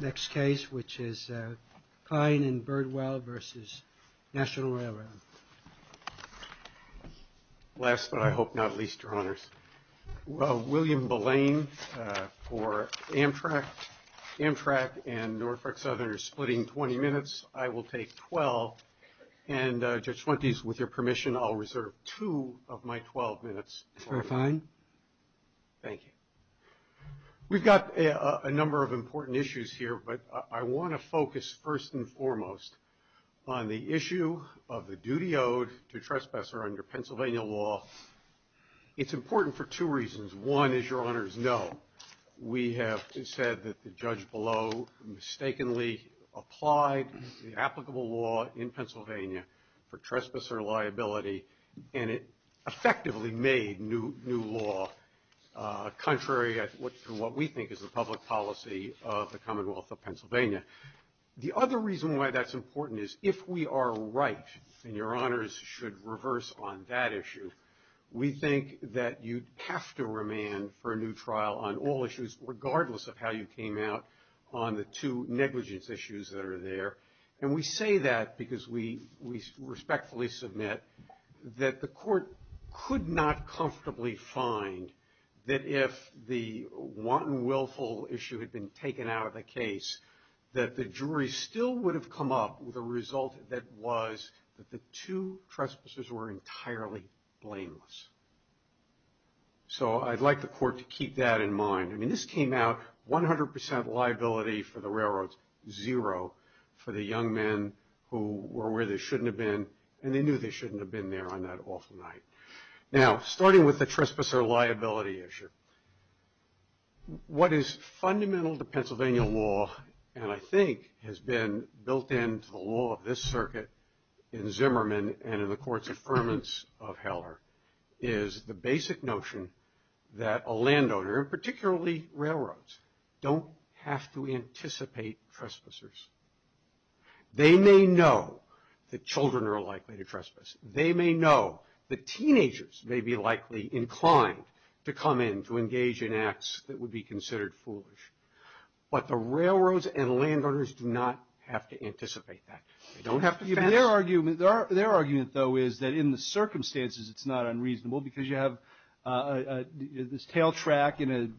Next case, which is Kline and Birdwell v. National Railroad. Last but I hope not least, Your Honors. William Belane for Amtrak. Amtrak and Norfolk Southern are splitting 20 minutes. I will take 12, and Judge Fuentes, with your permission, I'll take 12 minutes. Thank you. We've got a number of important issues here, but I want to focus first and foremost on the issue of the duty owed to trespasser under Pennsylvania law. It's important for two reasons. One, as Your Honors know, we have said that the judge below mistakenly applied the applicable law in Pennsylvania for trespasser liability, and it effectively made new law, contrary to what we think is the public policy of the Commonwealth of Pennsylvania. The other reason why that's important is if we are right, and Your Honors should reverse on that issue, we think that you'd have to remand for a new trial on all issues, regardless of how you came out on the two negligence issues that are there. And we say that because we respectfully submit that the court could not comfortably find that if the wanton willful issue had been taken out of the case, that the jury still would have come up with a result that was that the two trespassers were entirely blameless. So I'd like the court to keep that in mind. I mean, this came out 100% liability for the young men who were where they shouldn't have been, and they knew they shouldn't have been there on that awful night. Now, starting with the trespasser liability issue, what is fundamental to Pennsylvania law, and I think has been built into the law of this circuit in Zimmerman and in the courts of ferments of Heller, is the basic notion that a landowner, particularly railroads, don't have to anticipate trespassers. They may know that children are likely to trespass. They may know that teenagers may be likely inclined to come in to engage in acts that would be considered foolish. But the railroads and landowners do not have to anticipate that. Their argument, though, is that in the circumstances it's not unreasonable, because you have this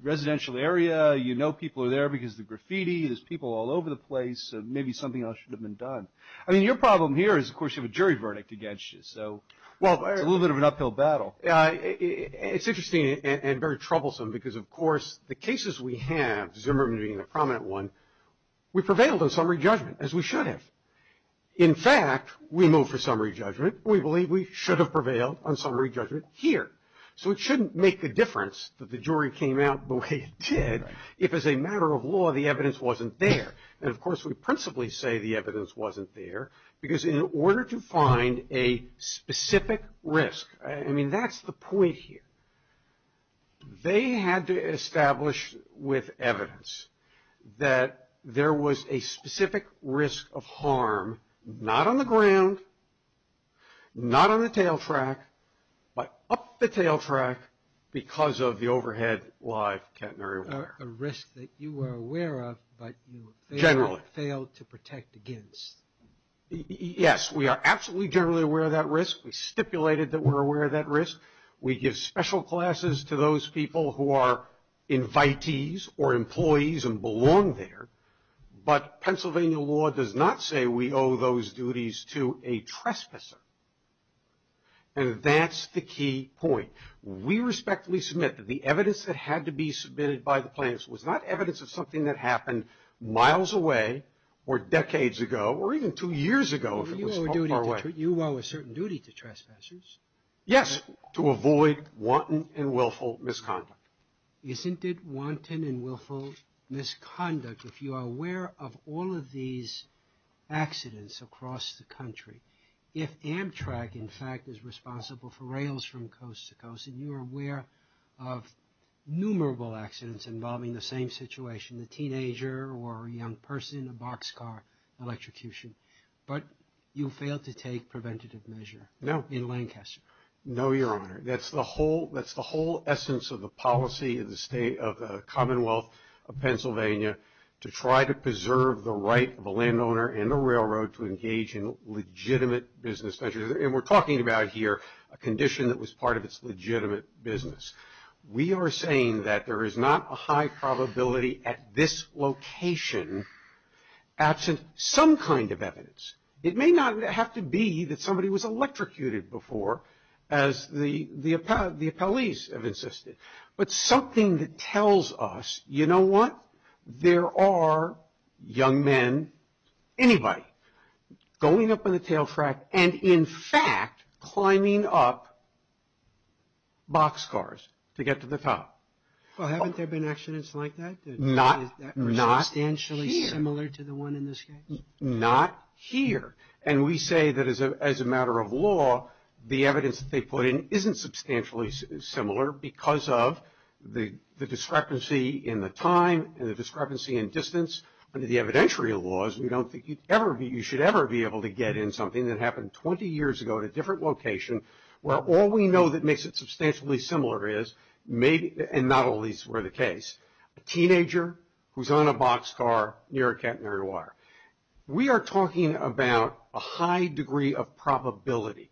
residential area, you know people are there because of the graffiti, there's people all over the place, so maybe something else should have been done. I mean, your problem here is, of course, you have a jury verdict against you, so it's a little bit of an uphill battle. It's interesting and very troublesome because, of course, the cases we have, Zimmerman being the prominent one, we prevailed on summary judgment, as we should have. In fact, we moved for summary judgment. We believe we should have prevailed on summary judgment here. So it shouldn't make a difference that the jury came out the way it did if, as a matter of law, the evidence wasn't there. And, of course, we principally say the evidence wasn't there because in order to find a specific risk, I mean, that's the point here. They had to establish with evidence that there was a specific risk of harm, not on the ground, not on the tail track, but up the tail track because of the overhead live catenary wire. A risk that you were aware of, but you failed to protect against. Yes, we are absolutely generally aware of that risk. We stipulated that we're aware of that risk. We give special classes to those people who are invitees or employees and belong there. But Pennsylvania law does not say we owe those duties to a trespasser. And that's the key point. We respectfully submit that the evidence that had to be submitted by the plaintiffs was not evidence of something that happened miles away or decades ago or even two years ago if it was far away. You owe a duty to trespassers. Yes, to avoid wanton and willful misconduct. Isn't it wanton and willful misconduct if you are aware of all of these accidents across the country? If Amtrak, in fact, is responsible for rails from coast to coast, and you are aware of numerable accidents involving the same situation, the teenager or a young person, a boxcar, electrocution, but you failed to take preventative measure in Lancaster? No, Your Honor. That's the whole essence of the policy of the Commonwealth of Pennsylvania to try to preserve the right of a landowner and a railroad to engage in legitimate business ventures. And we're talking about here a condition that was part of its legitimate business. We are saying that there is not a high probability at this location absent some kind of evidence. It may not have to be that somebody was electrocuted before, as the appellees have insisted, but something that tells us, you know what, there are young men, anybody, going up on the tail track and, in fact, climbing up boxcars to get to the top. Well, haven't there been accidents like that? Not here. Is that substantially similar to the one in this case? Not here. And we say that, as a matter of law, the evidence that they put in isn't substantially similar because of the discrepancy in the time and the discrepancy in distance under the evidentiary laws. We don't think you should ever be able to get in something that happened 20 years ago at a different location where all we know that makes it substantially similar is, and not all these were the case, a teenager who's on a boxcar near a catenary wire. We are talking about a high degree of probability.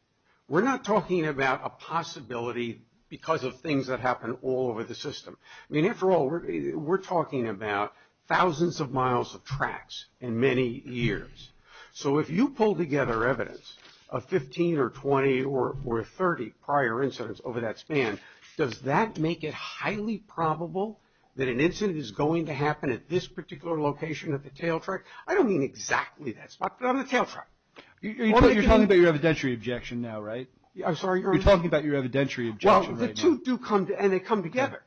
We're not talking about a possibility because of things that happen all over the system. I mean, after all, we're talking about thousands of miles of tracks in many years. So if you pull together evidence of 15 or 20 or 30 prior incidents over that span, does that make it highly probable that an incident is going to happen at this particular location at the tail track? I don't mean exactly that spot, but on the tail track. You're talking about your evidentiary objection now, right? I'm sorry? You're talking about your evidentiary objection right now. Well, the two do come, and they come together.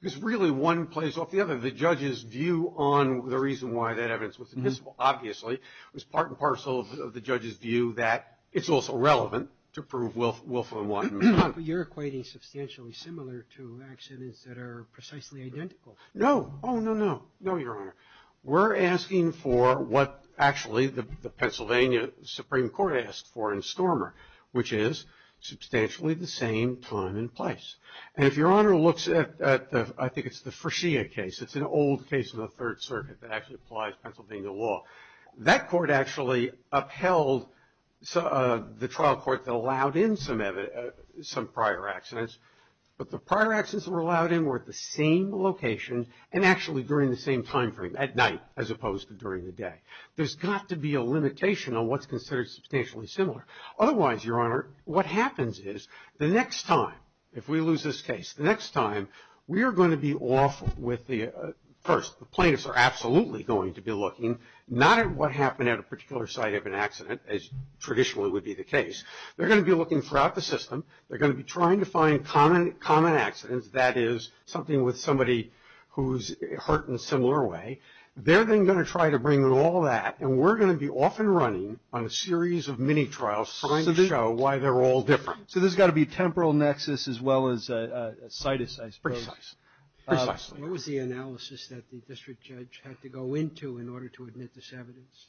Because really, one plays off the other. The judge's view on the reason why that evidence was admissible, obviously, was part and parcel of the judge's view that it's also relevant to prove Wilf and Wattenman. But you're equating substantially similar to accidents that are precisely identical. No. Oh, no, no. No, Your Honor. We're asking for what actually the Pennsylvania Supreme Court asked for in Stormer, which is substantially the same time and place. And if Your Honor looks at I think it's the Frischia case, it's an old case in the Third Circuit that actually applies Pennsylvania law, that court actually upheld the trial court that allowed in some prior accidents. But the prior accidents that were allowed in were at the same location and actually during the same time frame, at night as opposed to during the day. There's got to be a limitation on what's considered substantially similar. Otherwise, Your Honor, what happens is the next time, if we lose this case, the next time we are going to be off with the first. The plaintiffs are absolutely going to be looking not at what happened at a particular site of an accident, as traditionally would be the case. They're going to be looking throughout the system. They're going to be trying to find common accidents, that is, something with somebody who's hurt in a similar way. They're then going to try to bring in all that, and we're going to be off and running on a series of mini-trials trying to show why they're all different. So there's got to be a temporal nexus as well as a citus, I suppose. Precisely. What was the analysis that the district judge had to go into in order to admit this evidence?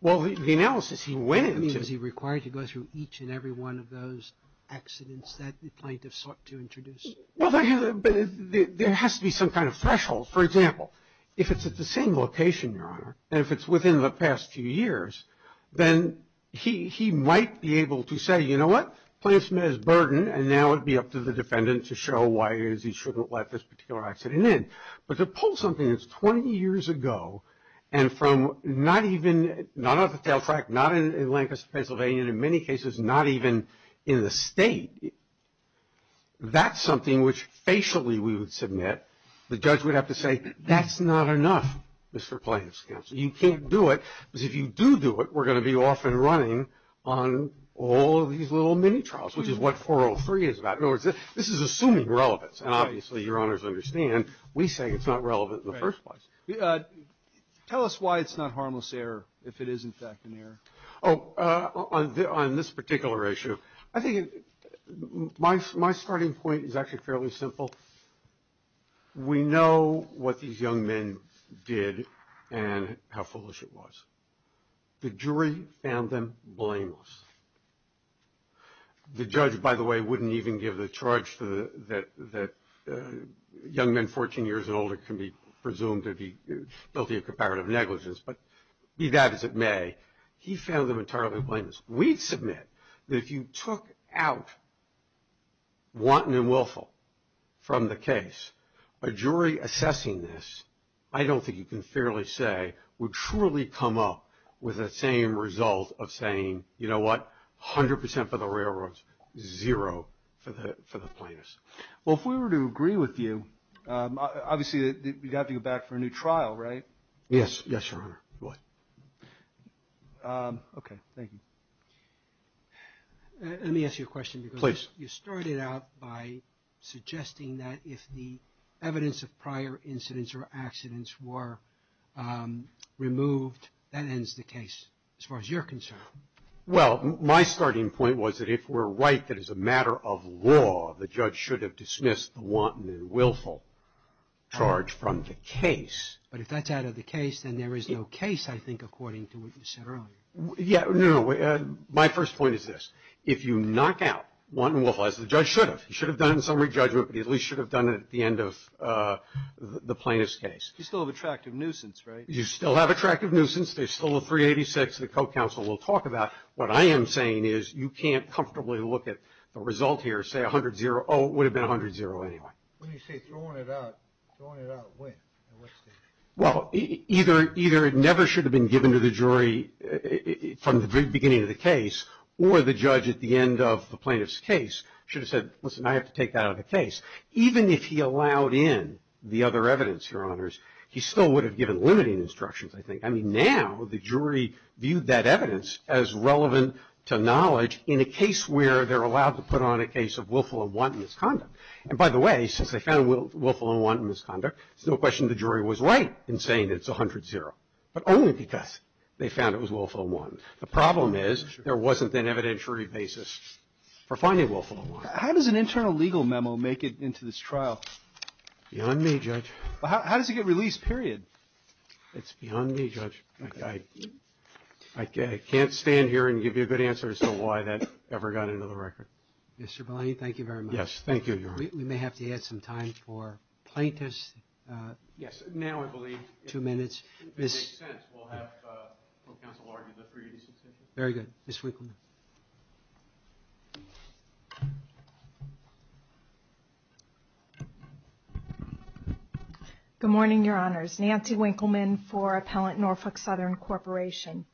Well, the analysis he went into. I mean, was he required to go through each and every one of those accidents that the plaintiffs sought to introduce? Well, there has to be some kind of threshold. For example, if it's at the same location, Your Honor, and if it's within the past few years, then he might be able to say, you know what, plaintiff's met his burden and now it would be up to the defendant to show why he shouldn't let this particular accident in. But to pull something that's 20 years ago and from not even, not off the tail track, not in Lancaster, Pennsylvania, and in many cases not even in the state, that's something which facially we would submit. The judge would have to say, that's not enough, Mr. Plaintiff's counsel. You can't do it. Because if you do do it, we're going to be off and running on all of these little mini trials, which is what 403 is about. In other words, this is assuming relevance. And obviously, Your Honors understand, we say it's not relevant in the first place. Tell us why it's not harmless error, if it is in fact an error. Oh, on this particular issue, I think my starting point is actually fairly simple. We know what these young men did and how foolish it was. The jury found them blameless. The judge, by the way, wouldn't even give the charge that young men 14 years and older can be presumed to be guilty of comparative negligence. But be that as it may, he found them entirely blameless. We'd submit that if you took out wanton and willful from the case, a jury assessing this, I don't think you can fairly say, would truly come up with the same result of saying, you know what, 100% for the railroads, zero for the plaintiffs. Well, if we were to agree with you, obviously you'd have to go back for a new trial, right? Yes. Yes, Your Honor. Go ahead. Okay. Thank you. Let me ask you a question. Please. You started out by suggesting that if the evidence of prior incidents or accidents were removed, that ends the case, as far as you're concerned. Well, my starting point was that if we're right that as a matter of law, the judge should have dismissed the wanton and willful charge from the case. But if that's out of the case, then there is no case, I think, according to what you said earlier. Yeah. No, no. My first point is this. If you knock out wanton and willful, as the judge should have, he should have done in summary judgment, but he at least should have done it at the end of the plaintiff's case. You still have attractive nuisance, right? You still have attractive nuisance. There's still a 386 the co-counsel will talk about. What I am saying is you can't comfortably look at the result here, say 100-0. Oh, it would have been 100-0 anyway. When you say throwing it out, throwing it out when? Well, either it never should have been given to the jury from the very beginning of the case or the judge at the end of the plaintiff's case should have said, listen, I have to take that out of the case. Even if he allowed in the other evidence, Your Honors, he still would have given limiting instructions, I think. I mean, now the jury viewed that evidence as relevant to knowledge in a case where they're allowed to put on a case of willful and wanton misconduct. And by the way, since they found willful and wanton misconduct, it's no question the jury was right in saying it's 100-0, but only because they found it was willful and wanton. The problem is there wasn't an evidentiary basis for finding willful and wanton. How does an internal legal memo make it into this trial? Beyond me, Judge. How does it get released, period? It's beyond me, Judge. I can't stand here and give you a good answer as to why that ever got into the record. Mr. Maloney, thank you very much. Yes, thank you, Your Honor. We may have to add some time for plaintiffs. Yes. Now, I believe, two minutes. If it makes sense, we'll have counsel argue the three reasons. Very good. Ms. Winkleman. Good morning, Your Honors. Nancy Winkleman for Appellant Norfolk Southern Corporation.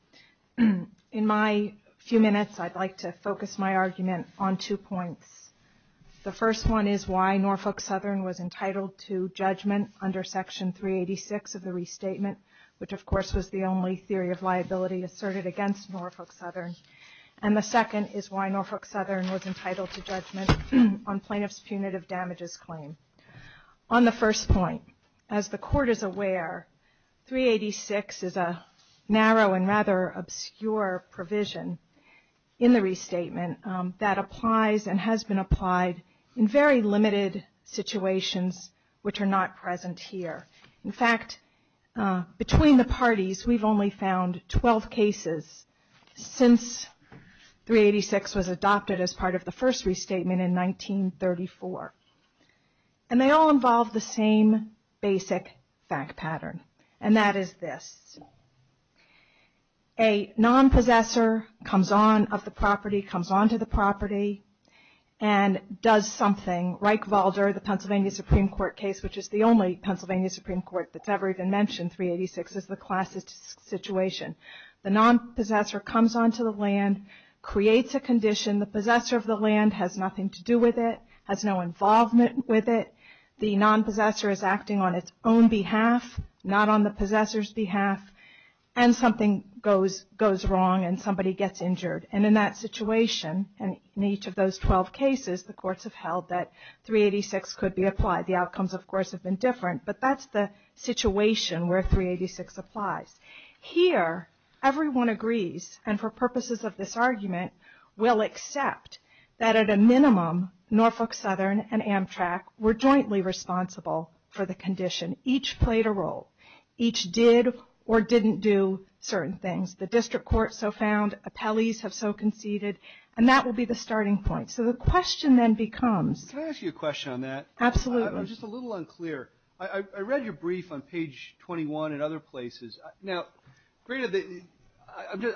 In my few minutes, I'd like to focus my argument on two points. The first one is why Norfolk Southern was entitled to judgment under Section 386 of the restatement, which, of course, was the only theory of liability asserted against Norfolk Southern. And the second is why Norfolk Southern was entitled to judgment on plaintiff's punitive damages claim. On the first point, as the Court is aware, 386 is a narrow and rather obscure provision in the restatement that applies and has been applied in very limited situations which are not present here. In fact, between the parties, we've only found 12 cases since 386 was adopted as part of the first restatement in 1934. And they all involve the same basic fact pattern, and that is this. A nonpossessor comes on of the property, comes onto the property, and does something. Reichwalder, the Pennsylvania Supreme Court case, which is the only Pennsylvania Supreme Court that's ever even mentioned 386, is the classic situation. The nonpossessor comes onto the land, creates a condition. The possessor of the land has nothing to do with it, has no involvement with it. The nonpossessor is acting on its own behalf, not on the possessor's behalf, and something goes wrong and somebody gets injured. And in that situation, in each of those 12 cases, the courts have held that 386 could be applied. The outcomes, of course, have been different, but that's the situation where 386 applies. Here, everyone agrees, and for purposes of this argument, will accept that at a minimum, Norfolk Southern and Amtrak were jointly responsible for the condition. Each played a role. Each did or didn't do certain things. The district court so found, appellees have so conceded, and that will be the starting point. So the question then becomes. Can I ask you a question on that? Absolutely. I'm just a little unclear. I read your brief on page 21 and other places. Now, Greta,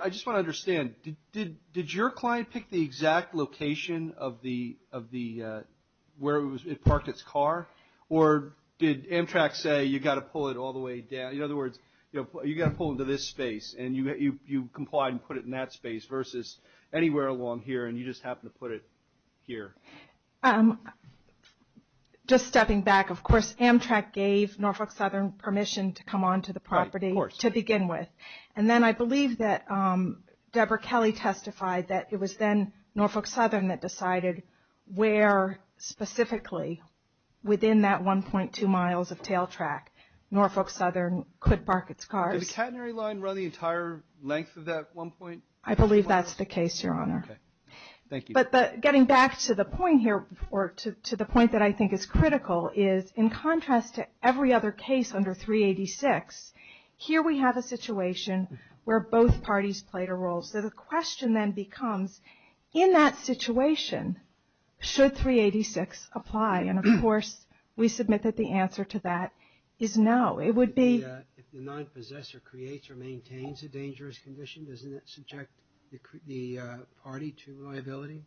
I just want to understand. Did your client pick the exact location of where it parked its car, or did Amtrak say you've got to pull it all the way down? In other words, you've got to pull into this space, and you complied and put it in that space, versus anywhere along here, and you just happened to put it here. Just stepping back, of course, Amtrak gave Norfolk Southern permission to come onto the property to begin with. And then I believe that Deborah Kelly testified that it was then Norfolk Southern that decided where specifically within that 1.2 miles of tail track, Norfolk Southern could park its cars. Did the catenary line run the entire length of that 1.2 miles? I believe that's the case, Your Honor. Okay. Thank you. But getting back to the point here, or to the point that I think is critical, is in contrast to every other case under 386, here we have a situation where both parties played a role. So the question then becomes, in that situation, should 386 apply? And, of course, we submit that the answer to that is no. If the non-possessor creates or maintains a dangerous condition, doesn't that subject the party to liability?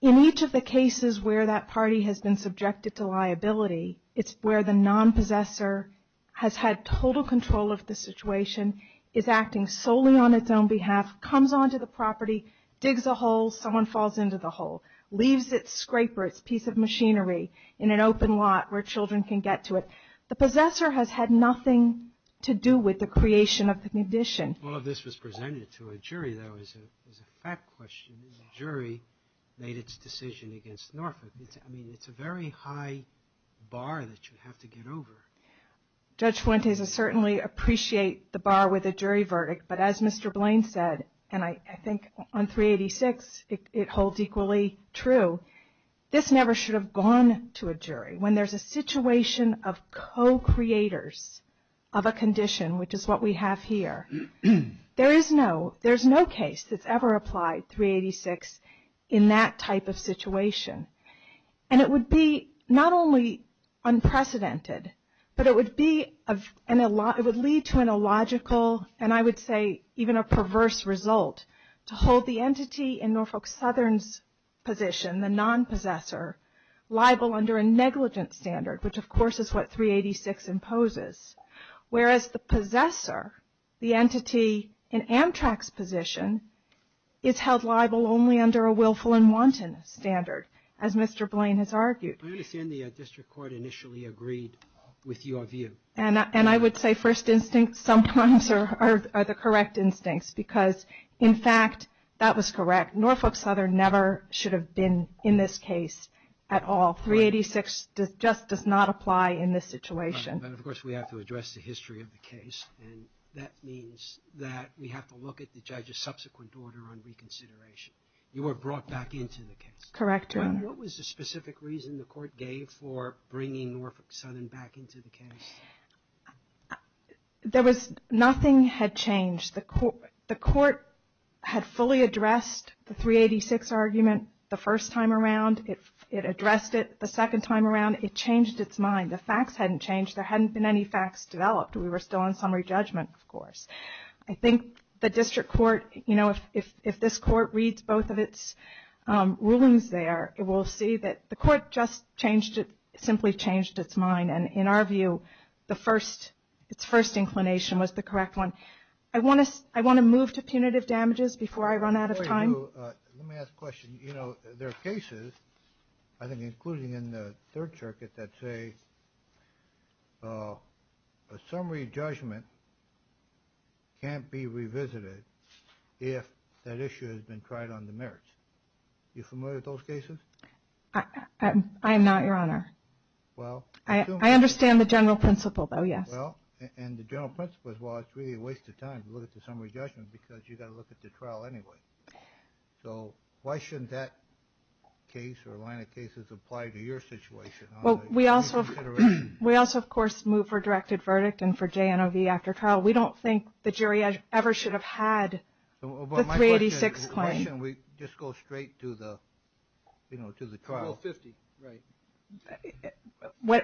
In each of the cases where that party has been subjected to liability, it's where the non-possessor has had total control of the situation, is acting solely on its own behalf, comes onto the property, digs a hole, someone falls into the hole, leaves its scraper, its piece of machinery, in an open lot where children can get to it. The possessor has had nothing to do with the creation of the condition. All of this was presented to a jury, though, as a fact question. The jury made its decision against Norfolk. I mean, it's a very high bar that you have to get over. Judge Fuentes, I certainly appreciate the bar with the jury verdict, but as Mr. Blaine said, and I think on 386 it holds equally true, this never should have gone to a jury. When there's a situation of co-creators of a condition, which is what we have here, there is no case that's ever applied 386 in that type of situation. And it would be not only unprecedented, but it would lead to an illogical, and I would say even a perverse result, to hold the entity in Norfolk Southern's position, the non-possessor, liable under a negligent standard, which of course is what 386 imposes. Whereas the possessor, the entity in Amtrak's position, is held liable only under a willful and wanton standard, as Mr. Blaine has argued. I understand the district court initially agreed with your view. And I would say first instincts sometimes are the correct instincts, because in fact, that was correct. Norfolk Southern never should have been in this case at all. 386 just does not apply in this situation. But of course we have to address the history of the case, and that means that we have to look at the judge's subsequent order on reconsideration. You were brought back into the case. Correct, Your Honor. And what was the specific reason the court gave for bringing Norfolk Southern back into the case? Nothing had changed. The court had fully addressed the 386 argument the first time around. It addressed it the second time around. It changed its mind. The facts hadn't changed. There hadn't been any facts developed. We were still on summary judgment, of course. I think the district court, you know, if this court reads both of its rulings there, it will see that the court just simply changed its mind. And in our view, its first inclination was the correct one. I want to move to punitive damages before I run out of time. Let me ask a question. You know, there are cases, I think including in the Third Circuit, that say a summary judgment can't be revisited if that issue has been tried on the merits. Are you familiar with those cases? I am not, Your Honor. I understand the general principle, though, yes. And the general principle is, well, it's really a waste of time to look at the summary judgment because you've got to look at the trial anyway. So why shouldn't that case or line of cases apply to your situation? Well, we also, of course, move for directed verdict and for JNOV after trial. We don't think the jury ever should have had the 386 claim. Why shouldn't we just go straight to the trial? Well, 50, right.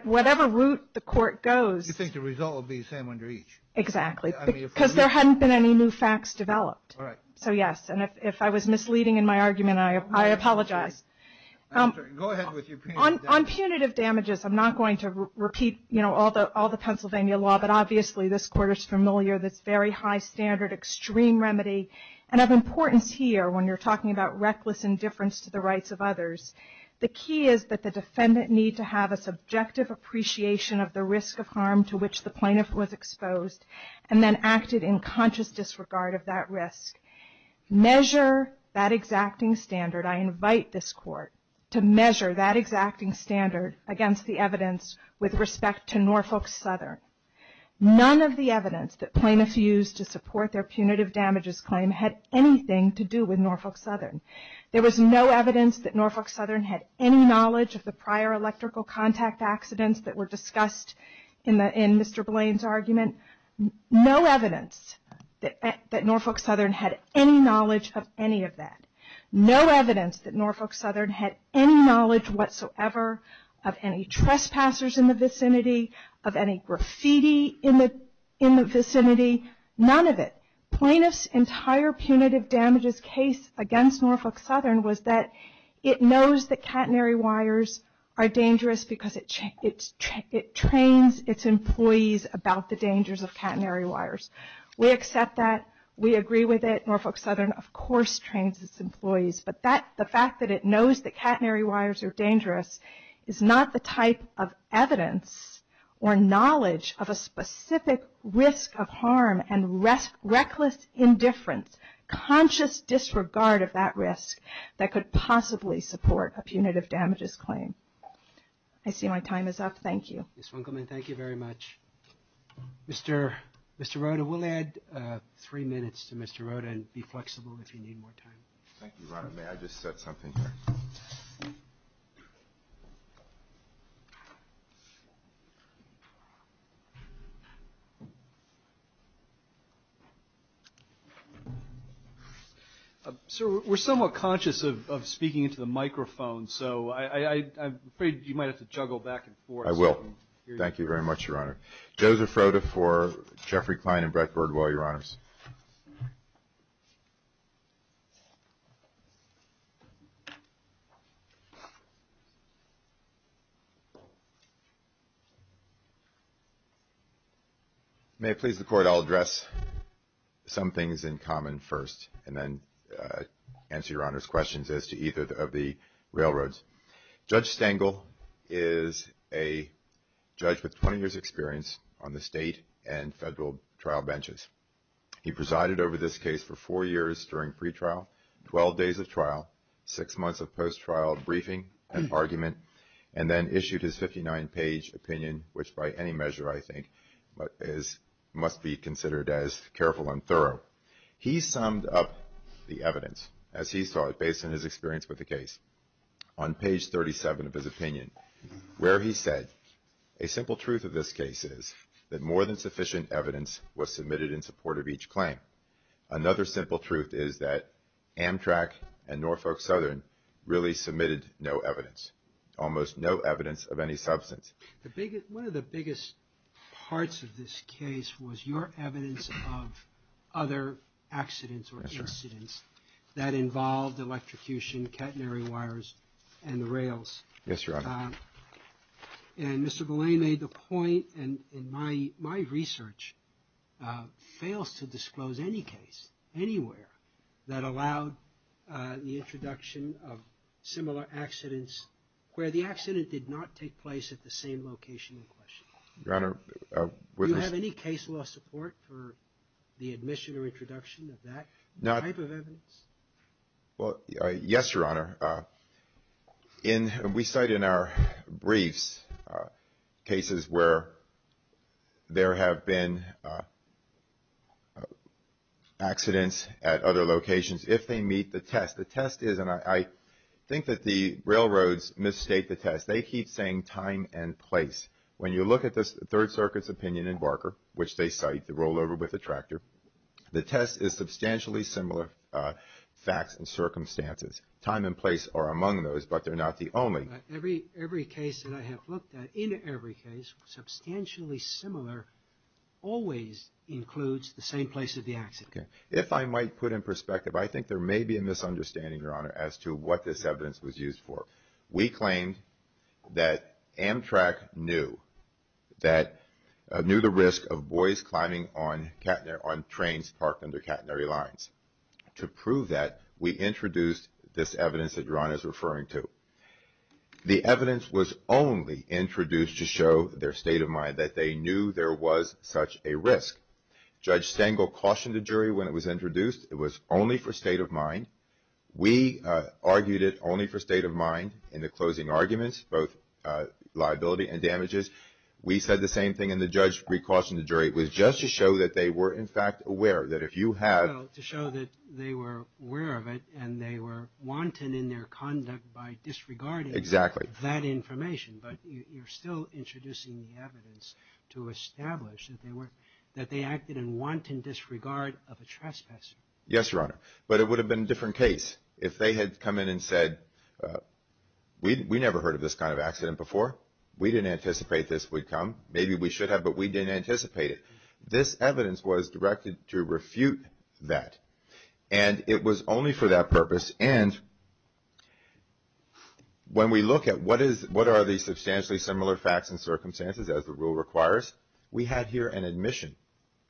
Whatever route the court goes. You think the result will be the same under each? Exactly. Because there hadn't been any new facts developed. All right. So, yes. And if I was misleading in my argument, I apologize. Go ahead with your punitive damages. On punitive damages, I'm not going to repeat, you know, all the Pennsylvania law, but obviously this Court is familiar with this very high standard extreme remedy. And of importance here, when you're talking about reckless indifference to the rights of others, the key is that the defendant need to have a subjective appreciation of the risk of harm to which the plaintiff was exposed and then acted in conscious disregard of that risk. Measure that exacting standard. I invite this Court to measure that exacting standard against the evidence with respect to Norfolk Southern. None of the evidence that plaintiffs used to support their punitive damages claim had anything to do with Norfolk Southern. There was no evidence that Norfolk Southern had any knowledge of the prior electrical contact accidents that were discussed in Mr. Blaine's argument. No evidence that Norfolk Southern had any knowledge of any of that. No evidence that Norfolk Southern had any knowledge whatsoever of any trespassers in the vicinity, of any graffiti in the vicinity. None of it. Plaintiff's entire punitive damages case against Norfolk Southern was that it knows that catenary wires are dangerous because it trains its employees about the dangers of catenary wires. We accept that. We agree with it. Norfolk Southern, of course, trains its employees. But the fact that it knows that catenary wires are dangerous is not the type of evidence or knowledge of a specific risk of harm and reckless indifference, conscious disregard of that risk that could possibly support a punitive damages claim. I see my time is up. Thank you. Ms. Winkleman, thank you very much. Mr. Rota, we'll add three minutes to Mr. Rota and be flexible if you need more time. Thank you, Your Honor. May I just set something here? Sir, we're somewhat conscious of speaking into the microphone, so I'm afraid you might have to juggle back and forth. I will. Thank you very much, Your Honor. Joseph Rota for Jeffrey Klein and Brett Gordwell, Your Honors. May it please the Court, I'll address some things in common first and then answer Your Honor's questions as to either of the railroads. Judge Stengel is a judge with 20 years' experience on the state and federal trial benches. He presided over this case for four years during pretrial, 12 days of trial, six months of post-trial briefing and argument, and then issued his 59-page opinion, which by any measure I think must be considered as careful and thorough. He summed up the evidence, as he saw it, based on his experience with the case. On page 37 of his opinion, where he said, a simple truth of this case is that more than sufficient evidence was submitted in support of each claim. Another simple truth is that Amtrak and Norfolk Southern really submitted no evidence, almost no evidence of any substance. One of the biggest parts of this case was your evidence of other accidents or incidents that involved electrocution, catenary wires, and the rails. Yes, Your Honor. And Mr. Belay made the point, and my research fails to disclose any case anywhere that allowed the introduction of similar accidents where the accident did not take place at the same location in question. Your Honor, with this – Do you have any case law support for the admission or introduction of that type of evidence? Well, yes, Your Honor. We cite in our briefs cases where there have been accidents at other locations if they meet the test. The test is – and I think that the railroads misstate the test. They keep saying time and place. When you look at the Third Circuit's opinion in Barker, which they cite, the rollover with the tractor, the test is substantially similar facts and circumstances. Time and place are among those, but they're not the only. Every case that I have looked at, in every case, substantially similar, always includes the same place of the accident. Okay. If I might put in perspective, I think there may be a misunderstanding, Your Honor, as to what this evidence was used for. We claimed that Amtrak knew the risk of boys climbing on trains parked under catenary lines. To prove that, we introduced this evidence that Your Honor is referring to. The evidence was only introduced to show their state of mind, that they knew there was such a risk. Judge Stengel cautioned the jury when it was introduced. It was only for state of mind. We argued it only for state of mind in the closing arguments, both liability and damages. We said the same thing, and the judge recautioned the jury. It was just to show that they were, in fact, aware, that if you have – Well, to show that they were aware of it, and they were wanton in their conduct by disregarding – Exactly. – that information. But you're still introducing the evidence to establish that they acted in wanton disregard of a trespasser. Yes, Your Honor. But it would have been a different case if they had come in and said, we never heard of this kind of accident before. We didn't anticipate this would come. Maybe we should have, but we didn't anticipate it. This evidence was directed to refute that, and it was only for that purpose. And when we look at what are the substantially similar facts and circumstances, as the rule requires, we have here an admission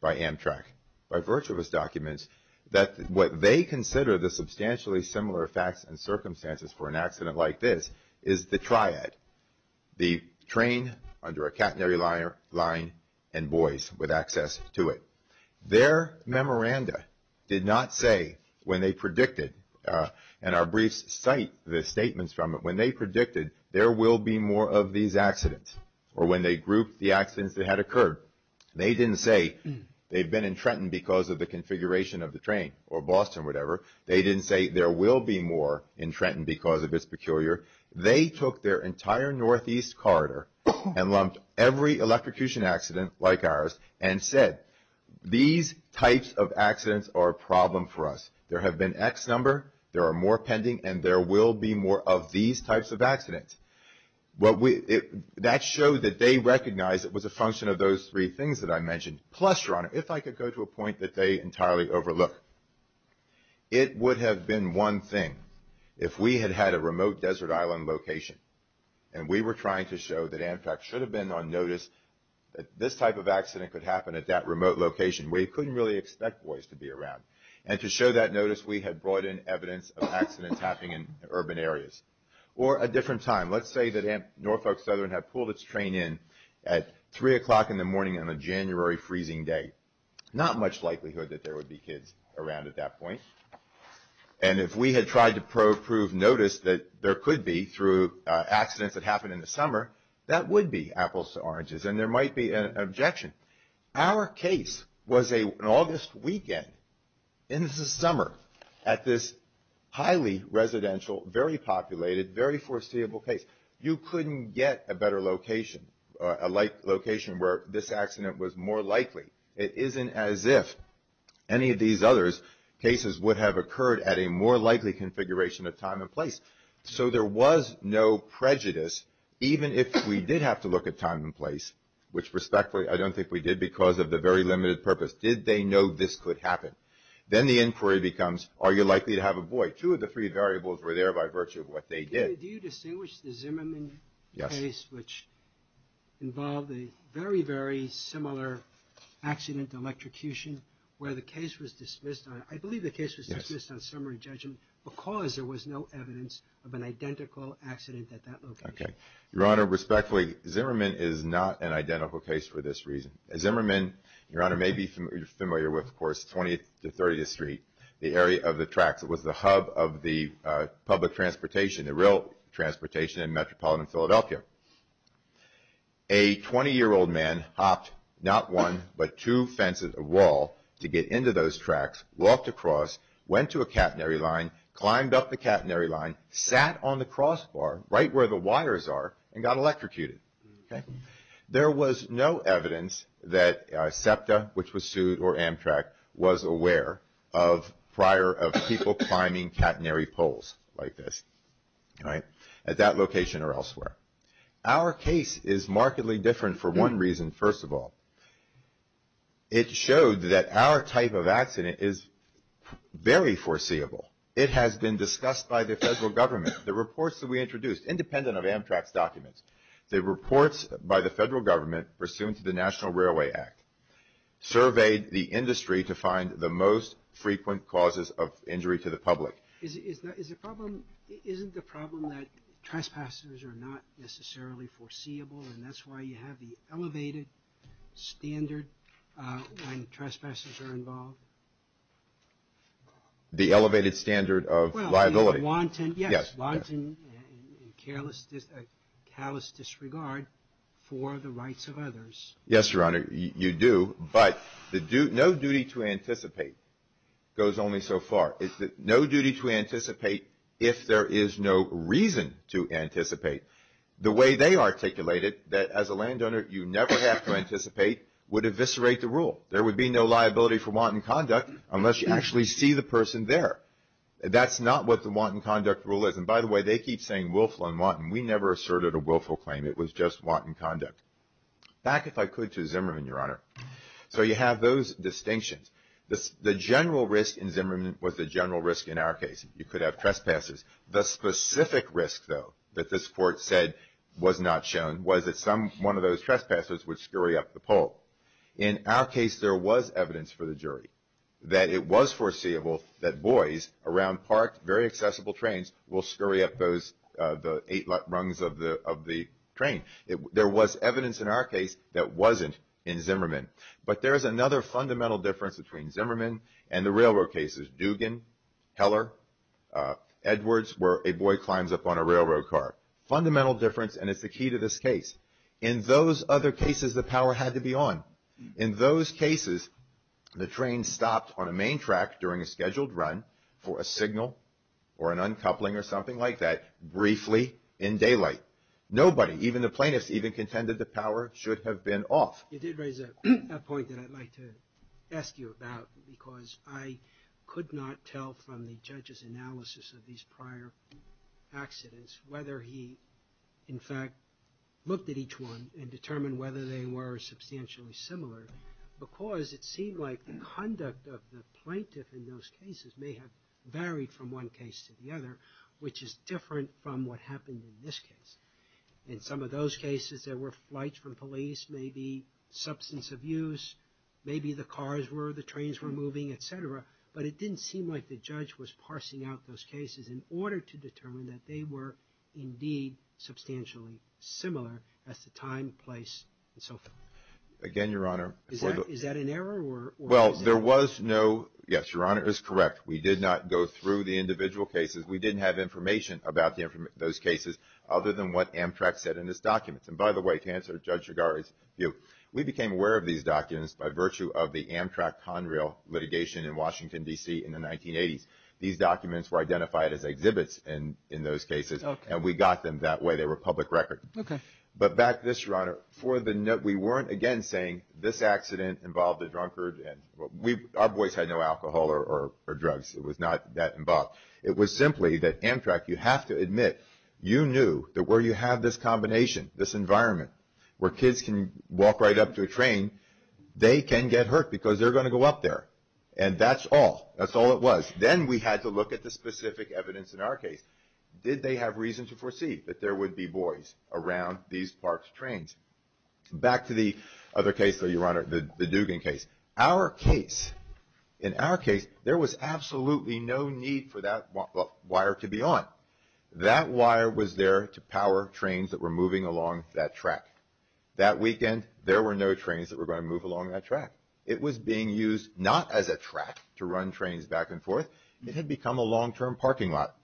by Amtrak, by virtuous documents, that what they consider the substantially similar facts and circumstances for an accident like this is the triad, the train under a catenary line and boys with access to it. Their memoranda did not say when they predicted, and our briefs cite the statements from it, when they predicted there will be more of these accidents or when they grouped the accidents that had occurred. They didn't say they've been in Trenton because of the configuration of the train or Boston, whatever. They didn't say there will be more in Trenton because of its peculiar. They took their entire northeast corridor and lumped every electrocution accident like ours and said, these types of accidents are a problem for us. There have been X number, there are more pending, and there will be more of these types of accidents. That showed that they recognized it was a function of those three things that I mentioned. Plus, Your Honor, if I could go to a point that they entirely overlook, it would have been one thing if we had had a remote desert island location and we were trying to show that Amtrak should have been on notice that this type of accident could happen at that remote location. We couldn't really expect boys to be around. And to show that notice, we had brought in evidence of accidents happening in urban areas. Or a different time. Let's say that Amt Norfolk Southern had pulled its train in at 3 o'clock in the morning on a January freezing day. Not much likelihood that there would be kids around at that point. And if we had tried to prove notice that there could be through accidents that happened in the summer, that would be apples to oranges and there might be an objection. Our case was an August weekend in the summer at this highly residential, very populated, very foreseeable place. You couldn't get a better location, a location where this accident was more likely. It isn't as if any of these other cases would have occurred at a more likely configuration of time and place. So there was no prejudice, even if we did have to look at time and place, which respectfully I don't think we did because of the very limited purpose. Did they know this could happen? Then the inquiry becomes, are you likely to have a boy? Two of the three variables were there by virtue of what they did. Do you distinguish the Zimmerman case, which involved a very, very similar accident, electrocution, where the case was dismissed on, I believe the case was dismissed on summary judgment, because there was no evidence of an identical accident at that location. Your Honor, respectfully, Zimmerman is not an identical case for this reason. Zimmerman, Your Honor, may be familiar with, of course, 20th to 30th Street, the area of the tracks. It was the hub of the public transportation, the rail transportation in metropolitan Philadelphia. A 20-year-old man hopped not one, but two fences of wall to get into those tracks, walked across, went to a catenary line, climbed up the catenary line, sat on the crossbar right where the wires are, and got electrocuted. There was no evidence that SEPTA, which was sued, or Amtrak, was aware of prior of people climbing catenary poles like this at that location or elsewhere. Our case is markedly different for one reason, first of all. It showed that our type of accident is very foreseeable. It has been discussed by the federal government. The reports that we introduced, independent of Amtrak's documents, the reports by the federal government pursuant to the National Railway Act surveyed the industry to find the most frequent causes of injury to the public. Isn't the problem that trespassers are not necessarily foreseeable, and that's why you have the elevated standard when trespassers are involved? The elevated standard of liability. Well, you wanton, yes, wanton, and callous disregard for the rights of others. Yes, Your Honor, you do, but no duty to anticipate goes only so far. No duty to anticipate if there is no reason to anticipate. The way they articulated that as a landowner you never have to anticipate would eviscerate the rule. There would be no liability for wanton conduct unless you actually see the person there. That's not what the wanton conduct rule is. And by the way, they keep saying willful and wanton. We never asserted a willful claim. It was just wanton conduct. Back, if I could, to Zimmerman, Your Honor. So you have those distinctions. The general risk in Zimmerman was the general risk in our case. You could have trespassers. The specific risk, though, that this Court said was not shown was that one of those trespassers would scurry up the pole. In our case, there was evidence for the jury that it was foreseeable that boys around parked, very accessible trains will scurry up the eight rungs of the train. There was evidence in our case that wasn't in Zimmerman. But there is another fundamental difference between Zimmerman and the railroad cases, Dugan, Heller, Edwards, where a boy climbs up on a railroad car. Fundamental difference, and it's the key to this case. In those other cases, the power had to be on. In those cases, the train stopped on a main track during a scheduled run for a signal or an uncoupling or something like that briefly in daylight. Nobody, even the plaintiffs, even contended the power should have been off. You did raise a point that I'd like to ask you about because I could not tell from the judge's analysis of these prior accidents whether he, in fact, looked at each one and determined whether they were substantially similar because it seemed like the conduct of the plaintiff in those cases may have varied from one case to the other, which is different from what happened in this case. In some of those cases, there were flights from police, maybe substance abuse, maybe the cars were, the trains were moving, etc. But it didn't seem like the judge was parsing out those cases in order to determine that they were indeed substantially similar as to time, place, and so forth. Again, Your Honor. Is that an error? Well, there was no, yes, Your Honor is correct. We did not go through the individual cases. We didn't have information about those cases other than what Amtrak said in its documents. And by the way, to answer Judge Shigari's view, we became aware of these documents by virtue of the Amtrak Conrail litigation in Washington, D.C. in the 1980s. These documents were identified as exhibits in those cases. Okay. And we got them that way. They were public record. Okay. But back to this, Your Honor. We weren't, again, saying this accident involved a drunkard. Our boys had no alcohol or drugs. It was not that involved. It was simply that Amtrak, you have to admit, you knew that where you have this combination, this environment, where kids can walk right up to a train, they can get hurt because they're going to go up there. And that's all. That's all it was. Then we had to look at the specific evidence in our case. Did they have reason to foresee that there would be boys around these parked trains? Back to the other case, though, Your Honor, the Dugan case. Our case, in our case, there was absolutely no need for that wire to be on. That wire was there to power trains that were moving along that track. That weekend, there were no trains that were going to move along that track. It was being used not as a track to run trains back and forth. It had become a long-term parking lot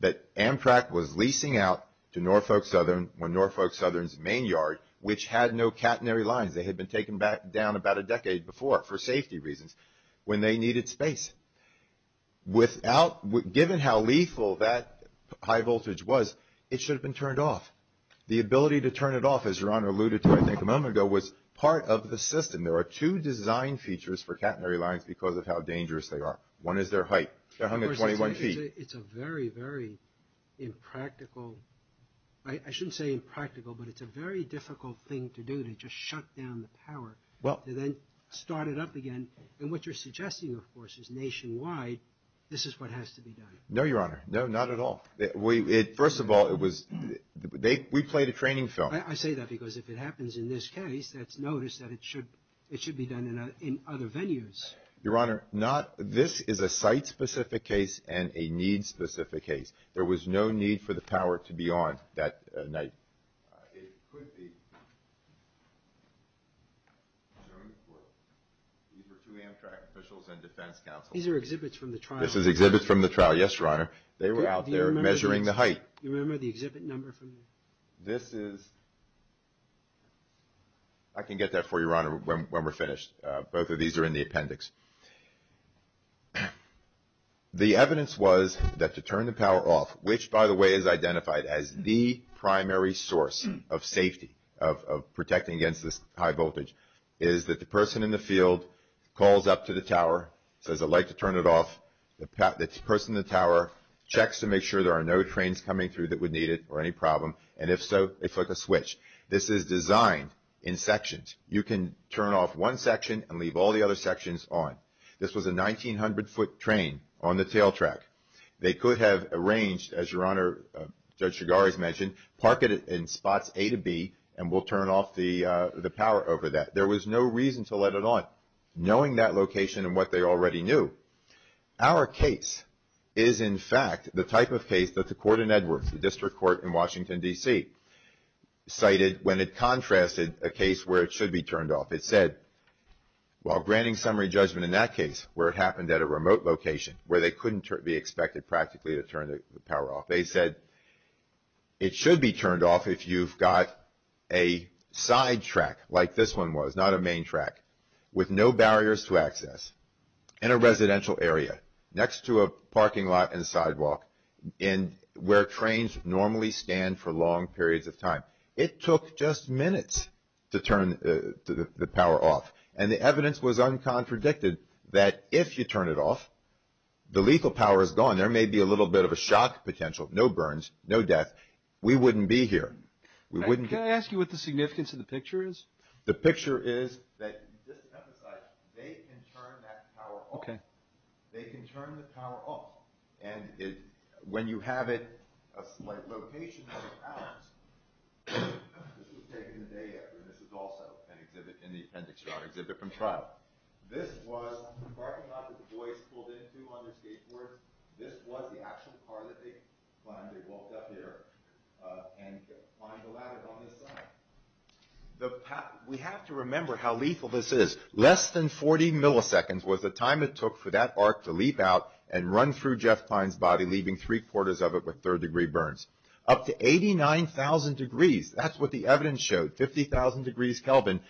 that Amtrak was leasing out to Norfolk Southern, Norfolk Southern's main yard, which had no catenary lines. They had been taken down about a decade before for safety reasons when they needed space. Given how lethal that high voltage was, it should have been turned off. The ability to turn it off, as Your Honor alluded to, I think, a moment ago, was part of the system. There are two design features for catenary lines because of how dangerous they are. One is their height. They're hung at 21 feet. It's a very, very impractical – I shouldn't say impractical, but it's a very difficult thing to do to just shut down the power to then start it up again. And what you're suggesting, of course, is nationwide this is what has to be done. No, Your Honor. No, not at all. First of all, it was – we played a training film. I say that because if it happens in this case, it's noticed that it should be done in other venues. Your Honor, not – this is a site-specific case and a need-specific case. There was no need for the power to be on that night. It could be. These were two Amtrak officials and defense counsel. These are exhibits from the trial. This is exhibits from the trial. Yes, Your Honor. They were out there measuring the height. Do you remember the exhibit number? This is – I can get that for you, Your Honor, when we're finished. Both of these are in the appendix. The evidence was that to turn the power off, which, by the way, is identified as the primary source of safety, of protecting against this high voltage, is that the person in the field calls up to the tower, says, I'd like to turn it off. The person in the tower checks to make sure there are no trains coming through that would need it or any problem, and if so, they flick a switch. This is designed in sections. You can turn off one section and leave all the other sections on. This was a 1,900-foot train on the tail track. They could have arranged, as Your Honor, Judge Shigari has mentioned, park it in spots A to B and will turn off the power over that. There was no reason to let it on, knowing that location and what they already knew. Our case is, in fact, the type of case that the court in Edwards, the district court in Washington, D.C., cited when it contrasted a case where it should be turned off. It said, while granting summary judgment in that case, where it happened at a remote location, where they couldn't be expected practically to turn the power off, they said it should be turned off if you've got a side track, like this one was, not a main track, with no barriers to access in a residential area next to a parking lot and sidewalk where trains normally stand for long periods of time. It took just minutes to turn the power off, and the evidence was uncontradicted that if you turn it off, the lethal power is gone. There may be a little bit of a shock potential, no burns, no death. We wouldn't be here. Can I ask you what the significance of the picture is? The picture is that, just to emphasize, they can turn that power off. They can turn the power off. And when you have it a slight location out of bounds, this was taken the day after. This is also in the appendix to our exhibit from trial. This was the parking lot that the boys pulled into on their skateboards. This was the actual car that they climbed. They walked up here and climbed the ladder on this side. We have to remember how lethal this is. Less than 40 milliseconds was the time it took for that arc to leap out and run through Jeff Klein's body, leaving three-quarters of it with third-degree burns. Up to 89,000 degrees, that's what the evidence showed, 50,000 degrees Kelvin,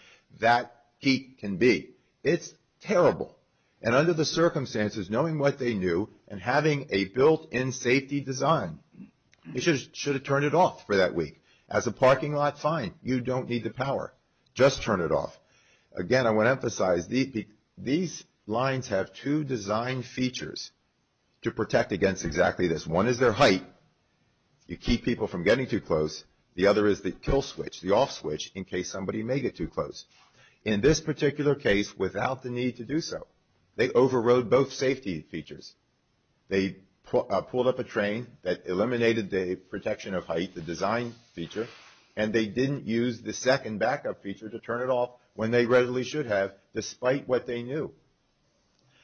that heat can be. It's terrible. And under the circumstances, knowing what they knew, and having a built-in safety design, they should have turned it off for that week. As a parking lot, fine. You don't need the power. Just turn it off. Again, I want to emphasize, these lines have two design features to protect against exactly this. One is their height. You keep people from getting too close. The other is the kill switch, the off switch, in case somebody may get too close. In this particular case, without the need to do so, they overrode both safety features. They pulled up a train that eliminated the protection of height, the design feature, and they didn't use the second backup feature to turn it off when they readily should have, despite what they knew.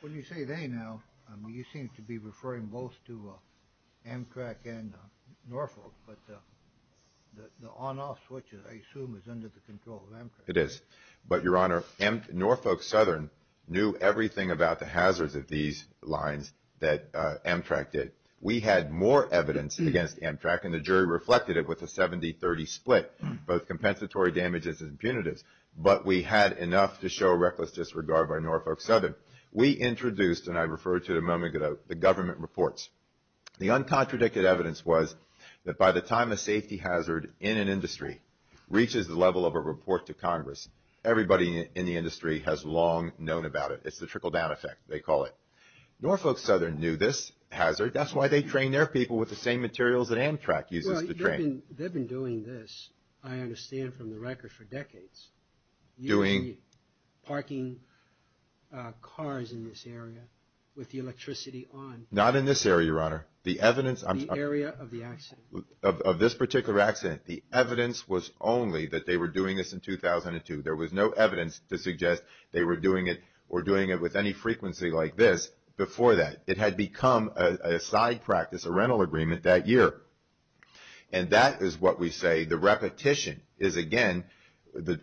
When you say they now, you seem to be referring both to Amtrak and Norfolk. But the on-off switch, I assume, is under the control of Amtrak. It is. But, Your Honor, Norfolk Southern knew everything about the hazards of these lines that Amtrak did. We had more evidence against Amtrak, and the jury reflected it with a 70-30 split, both compensatory damages and punitives. But we had enough to show reckless disregard by Norfolk Southern. We introduced, and I refer to it a moment ago, the government reports. The uncontradicted evidence was that by the time a safety hazard in an industry reaches the level of a report to Congress, everybody in the industry has long known about it. It's the trickle-down effect, they call it. Norfolk Southern knew this hazard. That's why they trained their people with the same materials that Amtrak uses to train. They've been doing this, I understand from the record, for decades. Doing? Parking cars in this area with the electricity on. Not in this area, Your Honor. The area of the accident. Of this particular accident. The evidence was only that they were doing this in 2002. There was no evidence to suggest they were doing it or doing it with any frequency like this before that. It had become a side practice, a rental agreement, that year. And that is what we say the repetition is, again,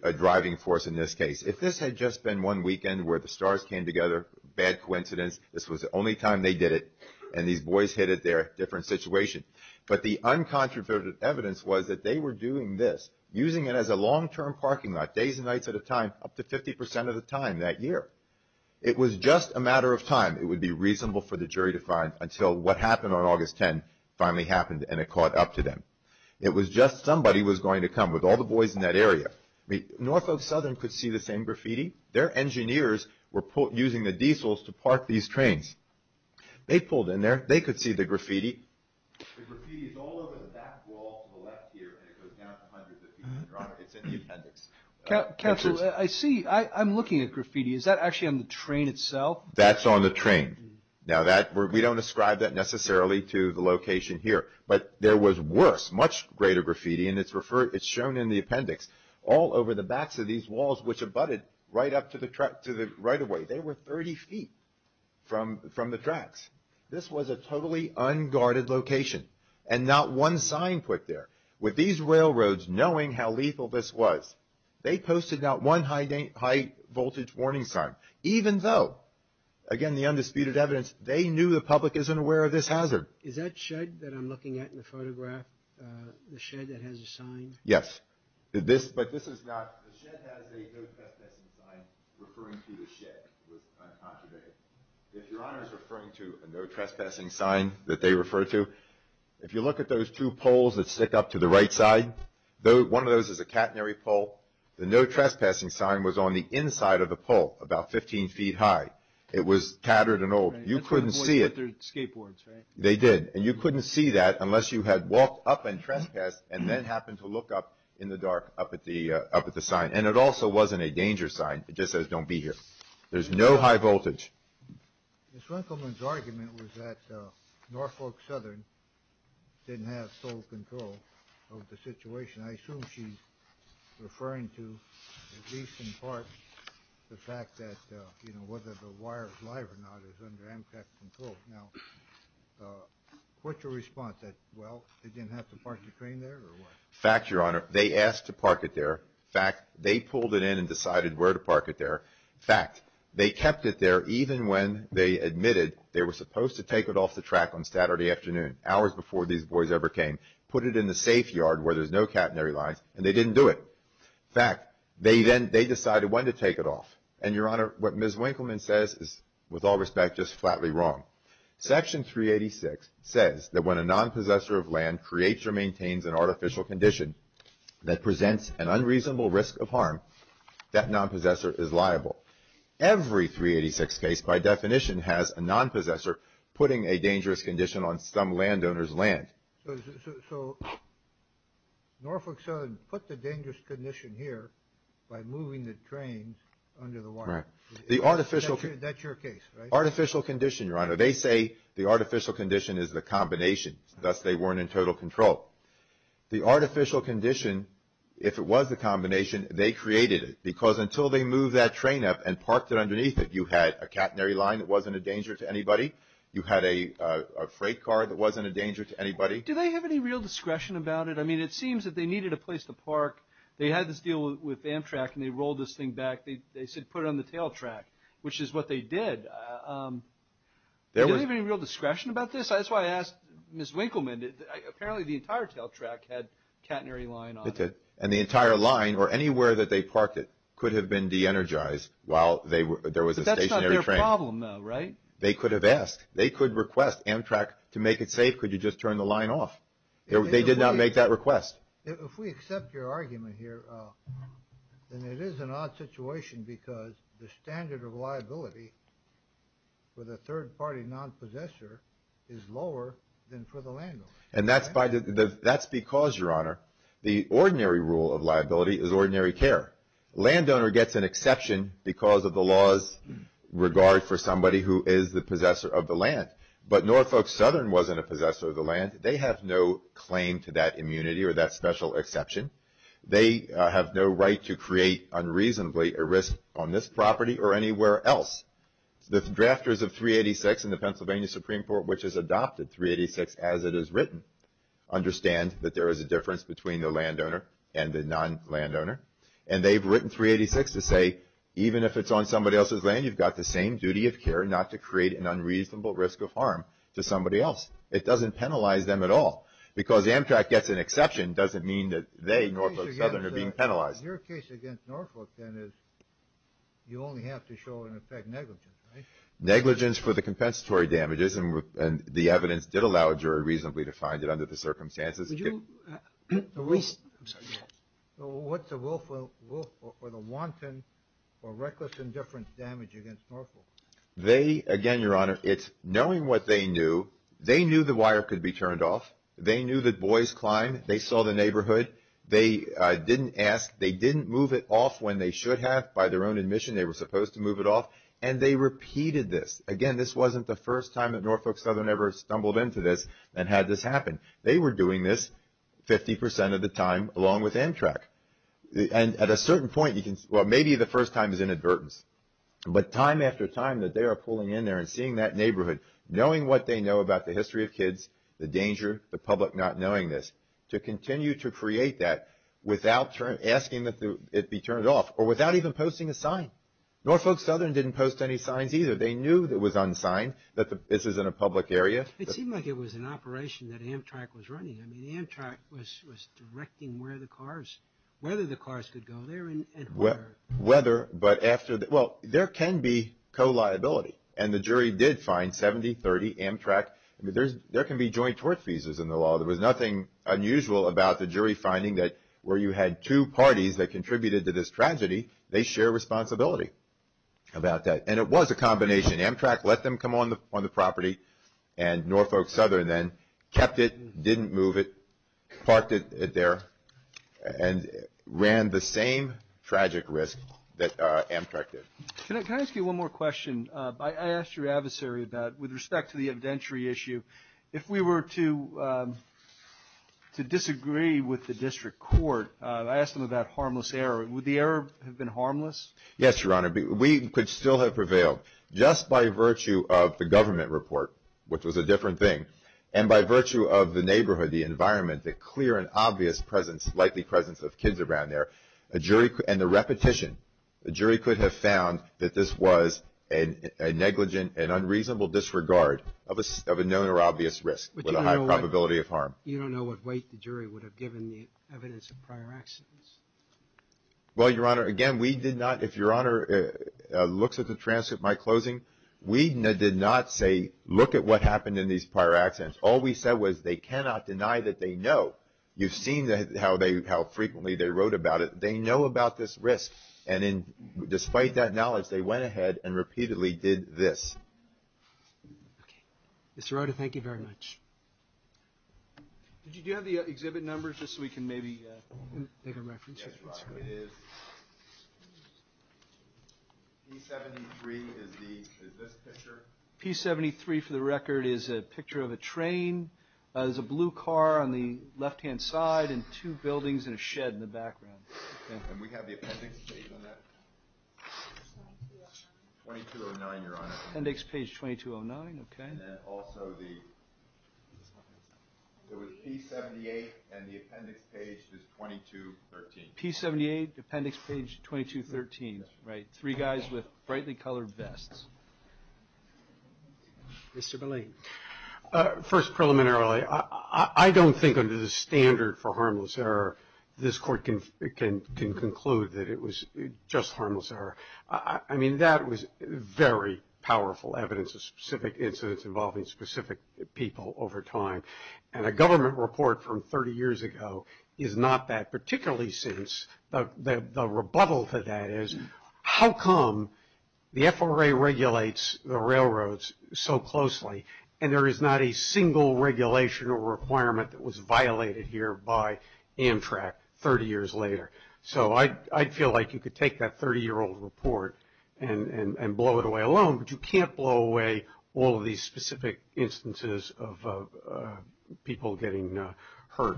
a driving force in this case. If this had just been one weekend where the stars came together, bad coincidence, this was the only time they did it, and these boys hit it there, different situation. But the uncontradicted evidence was that they were doing this, using it as a long-term parking lot, days and nights at a time, up to 50% of the time that year. It was just a matter of time it would be reasonable for the jury to find until what happened on August 10 finally happened and it caught up to them. It was just somebody was going to come with all the boys in that area. Norfolk Southern could see the same graffiti. Their engineers were using the diesels to park these trains. They pulled in there. They could see the graffiti. The graffiti is all over the back wall to the left here, and it goes down to hundreds of feet. It's in the appendix. Counselor, I see. I'm looking at graffiti. Is that actually on the train itself? That's on the train. Now, we don't ascribe that necessarily to the location here. But there was worse, much greater graffiti, and it's shown in the appendix, all over the backs of these walls, which abutted right up to the right-of-way. They were 30 feet from the tracks. This was a totally unguarded location, and not one sign put there. With these railroads knowing how lethal this was, they posted not one high-voltage warning sign, even though, again, the undisputed evidence, they knew the public isn't aware of this hazard. Is that shed that I'm looking at in the photograph, the shed that has the sign? Yes. But this is not... The shed has a no trespassing sign referring to the shed. It was uncultivated. If Your Honor is referring to a no trespassing sign that they refer to, if you look at those two poles that stick up to the right side, one of those is a catenary pole. The no trespassing sign was on the inside of the pole, about 15 feet high. It was tattered and old. You couldn't see it. They're skateboards, right? They did. And you couldn't see that unless you had walked up and trespassed and then happened to look up in the dark up at the sign. And it also wasn't a danger sign. It just says, don't be here. There's no high voltage. Ms. Runkelman's argument was that Norfolk Southern didn't have total control of the situation. I assume she's referring to at least in part the fact that, you know, whether the wire is live or not is under Amtrak control. Now, what's your response? That, well, they didn't have to park the train there or what? Fact, Your Honor. They asked to park it there. Fact, they pulled it in and decided where to park it there. Fact, they kept it there even when they admitted they were supposed to take it off the track on Saturday afternoon, hours before these boys ever came, put it in the safe yard where there's no catenary lines, and they didn't do it. Fact, they decided when to take it off. And, Your Honor, what Ms. Runkelman says is, with all respect, just flatly wrong. Section 386 says that when a nonpossessor of land creates or maintains an artificial condition that presents an unreasonable risk of harm, that nonpossessor is liable. Every 386 case, by definition, has a nonpossessor putting a dangerous condition on some landowner's land. So Norfolk Southern put the dangerous condition here by moving the train under the wire. That's your case, right? Artificial condition, Your Honor. They say the artificial condition is the combination. Thus, they weren't in total control. The artificial condition, if it was the combination, they created it because until they moved that train up and parked it underneath it, you had a catenary line that wasn't a danger to anybody. You had a freight car that wasn't a danger to anybody. Do they have any real discretion about it? I mean, it seems that they needed a place to park. They had this deal with Amtrak, and they rolled this thing back. They said put it on the tail track, which is what they did. Do they have any real discretion about this? That's why I asked Ms. Runkelman. Apparently, the entire tail track had a catenary line on it. And the entire line, or anywhere that they parked it, could have been de-energized while there was a stationary train. But that's not their problem, though, right? They could have asked. They could request Amtrak to make it safe. Could you just turn the line off? They did not make that request. If we accept your argument here, then it is an odd situation because the standard of liability for the third-party non-possessor is lower than for the landlord. And that's because, Your Honor, the ordinary rule of liability is ordinary care. Landowner gets an exception because of the law's regard for somebody who is the possessor of the land. But Norfolk Southern wasn't a possessor of the land. They have no claim to that immunity or that special exception. They have no right to create unreasonably a risk on this property or anywhere else. The drafters of 386 in the Pennsylvania Supreme Court, which has adopted 386 as it is written, understand that there is a difference between the landowner and the non-landowner. And they've written 386 to say, even if it's on somebody else's land, you've got the same duty of care not to create an unreasonable risk of harm to somebody else. It doesn't penalize them at all. Because Amtrak gets an exception doesn't mean that they, Norfolk Southern, are being penalized. Your case against Norfolk, then, is you only have to show, in effect, negligence, right? Negligence for the compensatory damages, and the evidence did allow a jury reasonably to find it under the circumstances. What's the will for the wanton or reckless indifference damage against Norfolk? They, again, Your Honor, it's knowing what they knew. They knew the wire could be turned off. They knew that boys climbed. They saw the neighborhood. They didn't ask. They didn't move it off when they should have. By their own admission, they were supposed to move it off. And they repeated this. Again, this wasn't the first time that Norfolk Southern ever stumbled into this and had this happen. They were doing this 50% of the time along with Amtrak. And at a certain point, well, maybe the first time is inadvertence. But time after time that they are pulling in there and seeing that neighborhood, knowing what they know about the history of kids, the danger, the public not knowing this, to continue to create that without asking that it be turned off or without even posting a sign. Norfolk Southern didn't post any signs either. They knew it was unsigned, that this is in a public area. It seemed like it was an operation that Amtrak was running. I mean, Amtrak was directing where the cars, whether the cars could go there and where. Whether, but after. Well, there can be co-liability. And the jury did find 70, 30 Amtrak. There can be joint tort fees in the law. There was nothing unusual about the jury finding that where you had two parties that contributed to this tragedy, they share responsibility about that. And it was a combination. Amtrak let them come on the property, and Norfolk Southern then kept it, didn't move it, parked it there, and ran the same tragic risk that Amtrak did. Can I ask you one more question? I asked your adversary about, with respect to the evidentiary issue, if we were to disagree with the district court, I asked him about harmless error. Would the error have been harmless? Yes, Your Honor. We could still have prevailed. Just by virtue of the government report, which was a different thing, and by virtue of the neighborhood, the environment, the clear and obvious presence, likely presence of kids around there, and the repetition, the jury could have found that this was a negligent and unreasonable disregard of a known or obvious risk with a high probability of harm. But you don't know what weight the jury would have given the evidence of prior accidents. Well, Your Honor, again, we did not, if Your Honor looks at the transcript, my closing, we did not say look at what happened in these prior accidents. All we said was they cannot deny that they know. You've seen how frequently they wrote about it. They know about this risk. And despite that knowledge, they went ahead and repeatedly did this. Okay. Mr. Rota, thank you very much. Did you have the exhibit numbers just so we can maybe make a reference? Yes, Your Honor, it is. P73 is this picture. P73, for the record, is a picture of a train. There's a blue car on the left-hand side and two buildings and a shed in the background. And we have the appendix page on that. 2209, Your Honor. Appendix page 2209, okay. And then also the P78 and the appendix page is 2213. P78, appendix page 2213. Right. Three guys with brightly colored vests. Mr. Belayne. First, preliminarily, I don't think under the standard for harmless error, this Court can conclude that it was just harmless error. I mean, that was very powerful evidence of specific incidents involving specific people over time. And a government report from 30 years ago is not that. Particularly since the rebuttal to that is, how come the FRA regulates the railroads so closely and there is not a single regulation or requirement that was violated here by Amtrak 30 years later? So I'd feel like you could take that 30-year-old report and blow it away alone, but you can't blow away all of these specific instances of people getting hurt.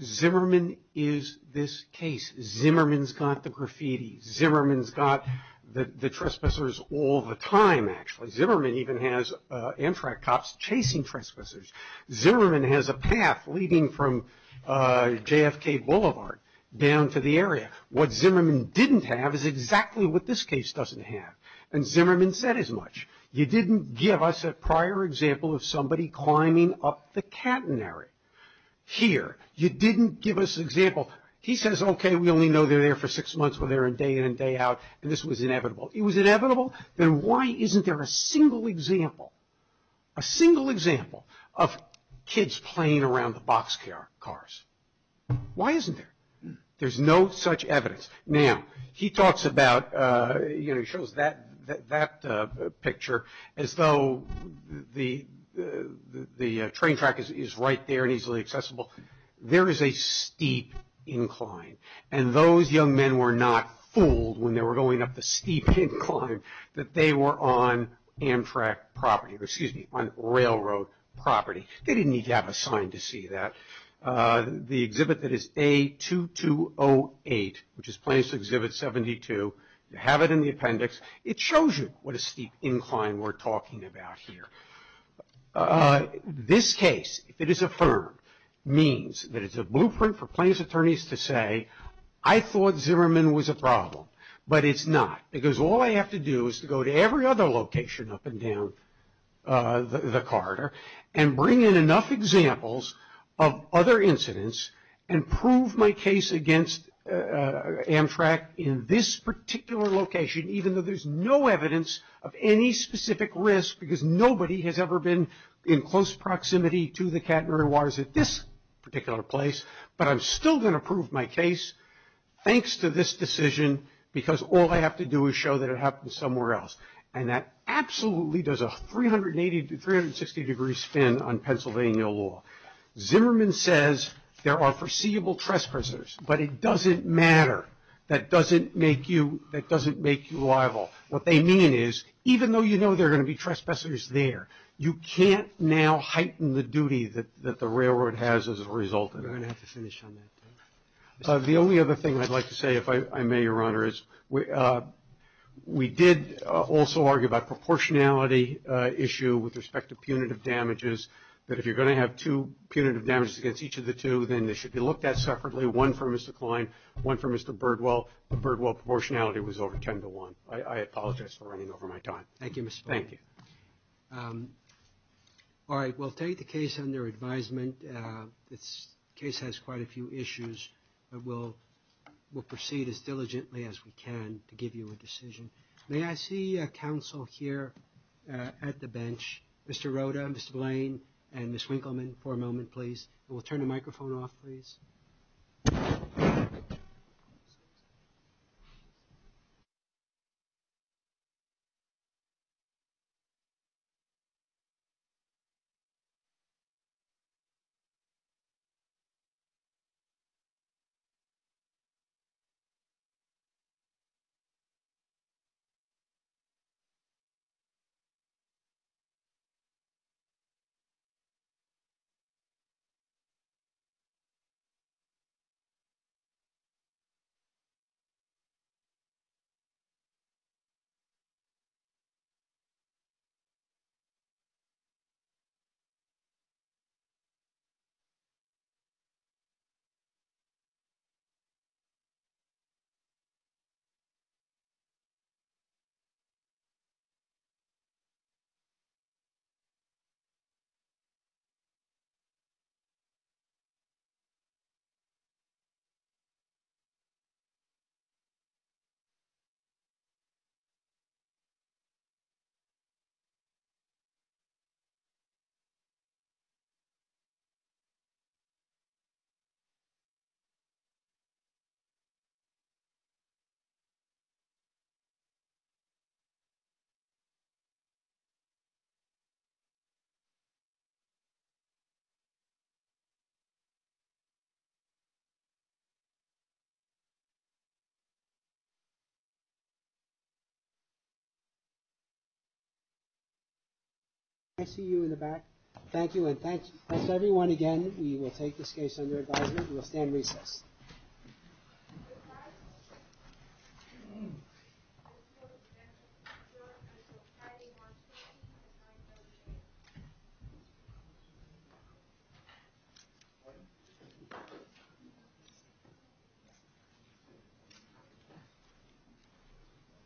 Zimmerman is this case. Zimmerman's got the graffiti. Zimmerman's got the trespassers all the time, actually. Zimmerman even has Amtrak cops chasing trespassers. Zimmerman has a path leading from JFK Boulevard down to the area. What Zimmerman didn't have is exactly what this case doesn't have. And Zimmerman said as much. You didn't give us a prior example of somebody climbing up the catenary here. You didn't give us an example. He says, okay, we only know they're there for six months, we're there day in and day out, and this was inevitable. It was inevitable? Then why isn't there a single example, a single example of kids playing around the boxcars? Why isn't there? There's no such evidence. Now, he talks about, you know, he shows that picture as though the train track is right there and easily accessible. There is a steep incline. And those young men were not fooled when they were going up the steep incline that they were on Amtrak property, excuse me, on railroad property. They didn't need to have a sign to see that. The exhibit that is A2208, which is Plaintiff's Exhibit 72, you have it in the appendix. It shows you what a steep incline we're talking about here. This case, if it is affirmed, means that it's a blueprint for plaintiff's attorneys to say, I thought Zimmerman was a problem, but it's not. Because all I have to do is to go to every other location up and down the corridor and bring in enough examples of other incidents and prove my case against Amtrak in this particular location, even though there's no evidence of any specific risk, because nobody has ever been in close proximity to the Katmari waters at this particular place. But I'm still going to prove my case thanks to this decision, because all I have to do is show that it happened somewhere else. And that absolutely does a 360-degree spin on Pennsylvania law. Zimmerman says there are foreseeable trespassers, but it doesn't matter. That doesn't make you liable. What they mean is, even though you know there are going to be trespassers there, you can't now heighten the duty that the railroad has as a result of it. We're going to have to finish on that. The only other thing I'd like to say, if I may, Your Honor, is we did also argue about proportionality issue with respect to punitive damages, that if you're going to have two punitive damages against each of the two, then they should be looked at separately, one for Mr. Kline, one for Mr. Birdwell. The Birdwell proportionality was over 10 to 1. I apologize for running over my time. Thank you, Mr. Blaine. Thank you. All right, we'll take the case under advisement. This case has quite a few issues, but we'll proceed as diligently as we can to give you a decision. May I see counsel here at the bench, Mr. Roda, Mr. Blaine, and Ms. Winkleman, for a moment, please. And we'll turn the microphone off, please. Thank you. Thank you. Thank you. May I see you in the back? Thank you, and thanks, everyone, again. We will take this case under advisement. We will stand recess.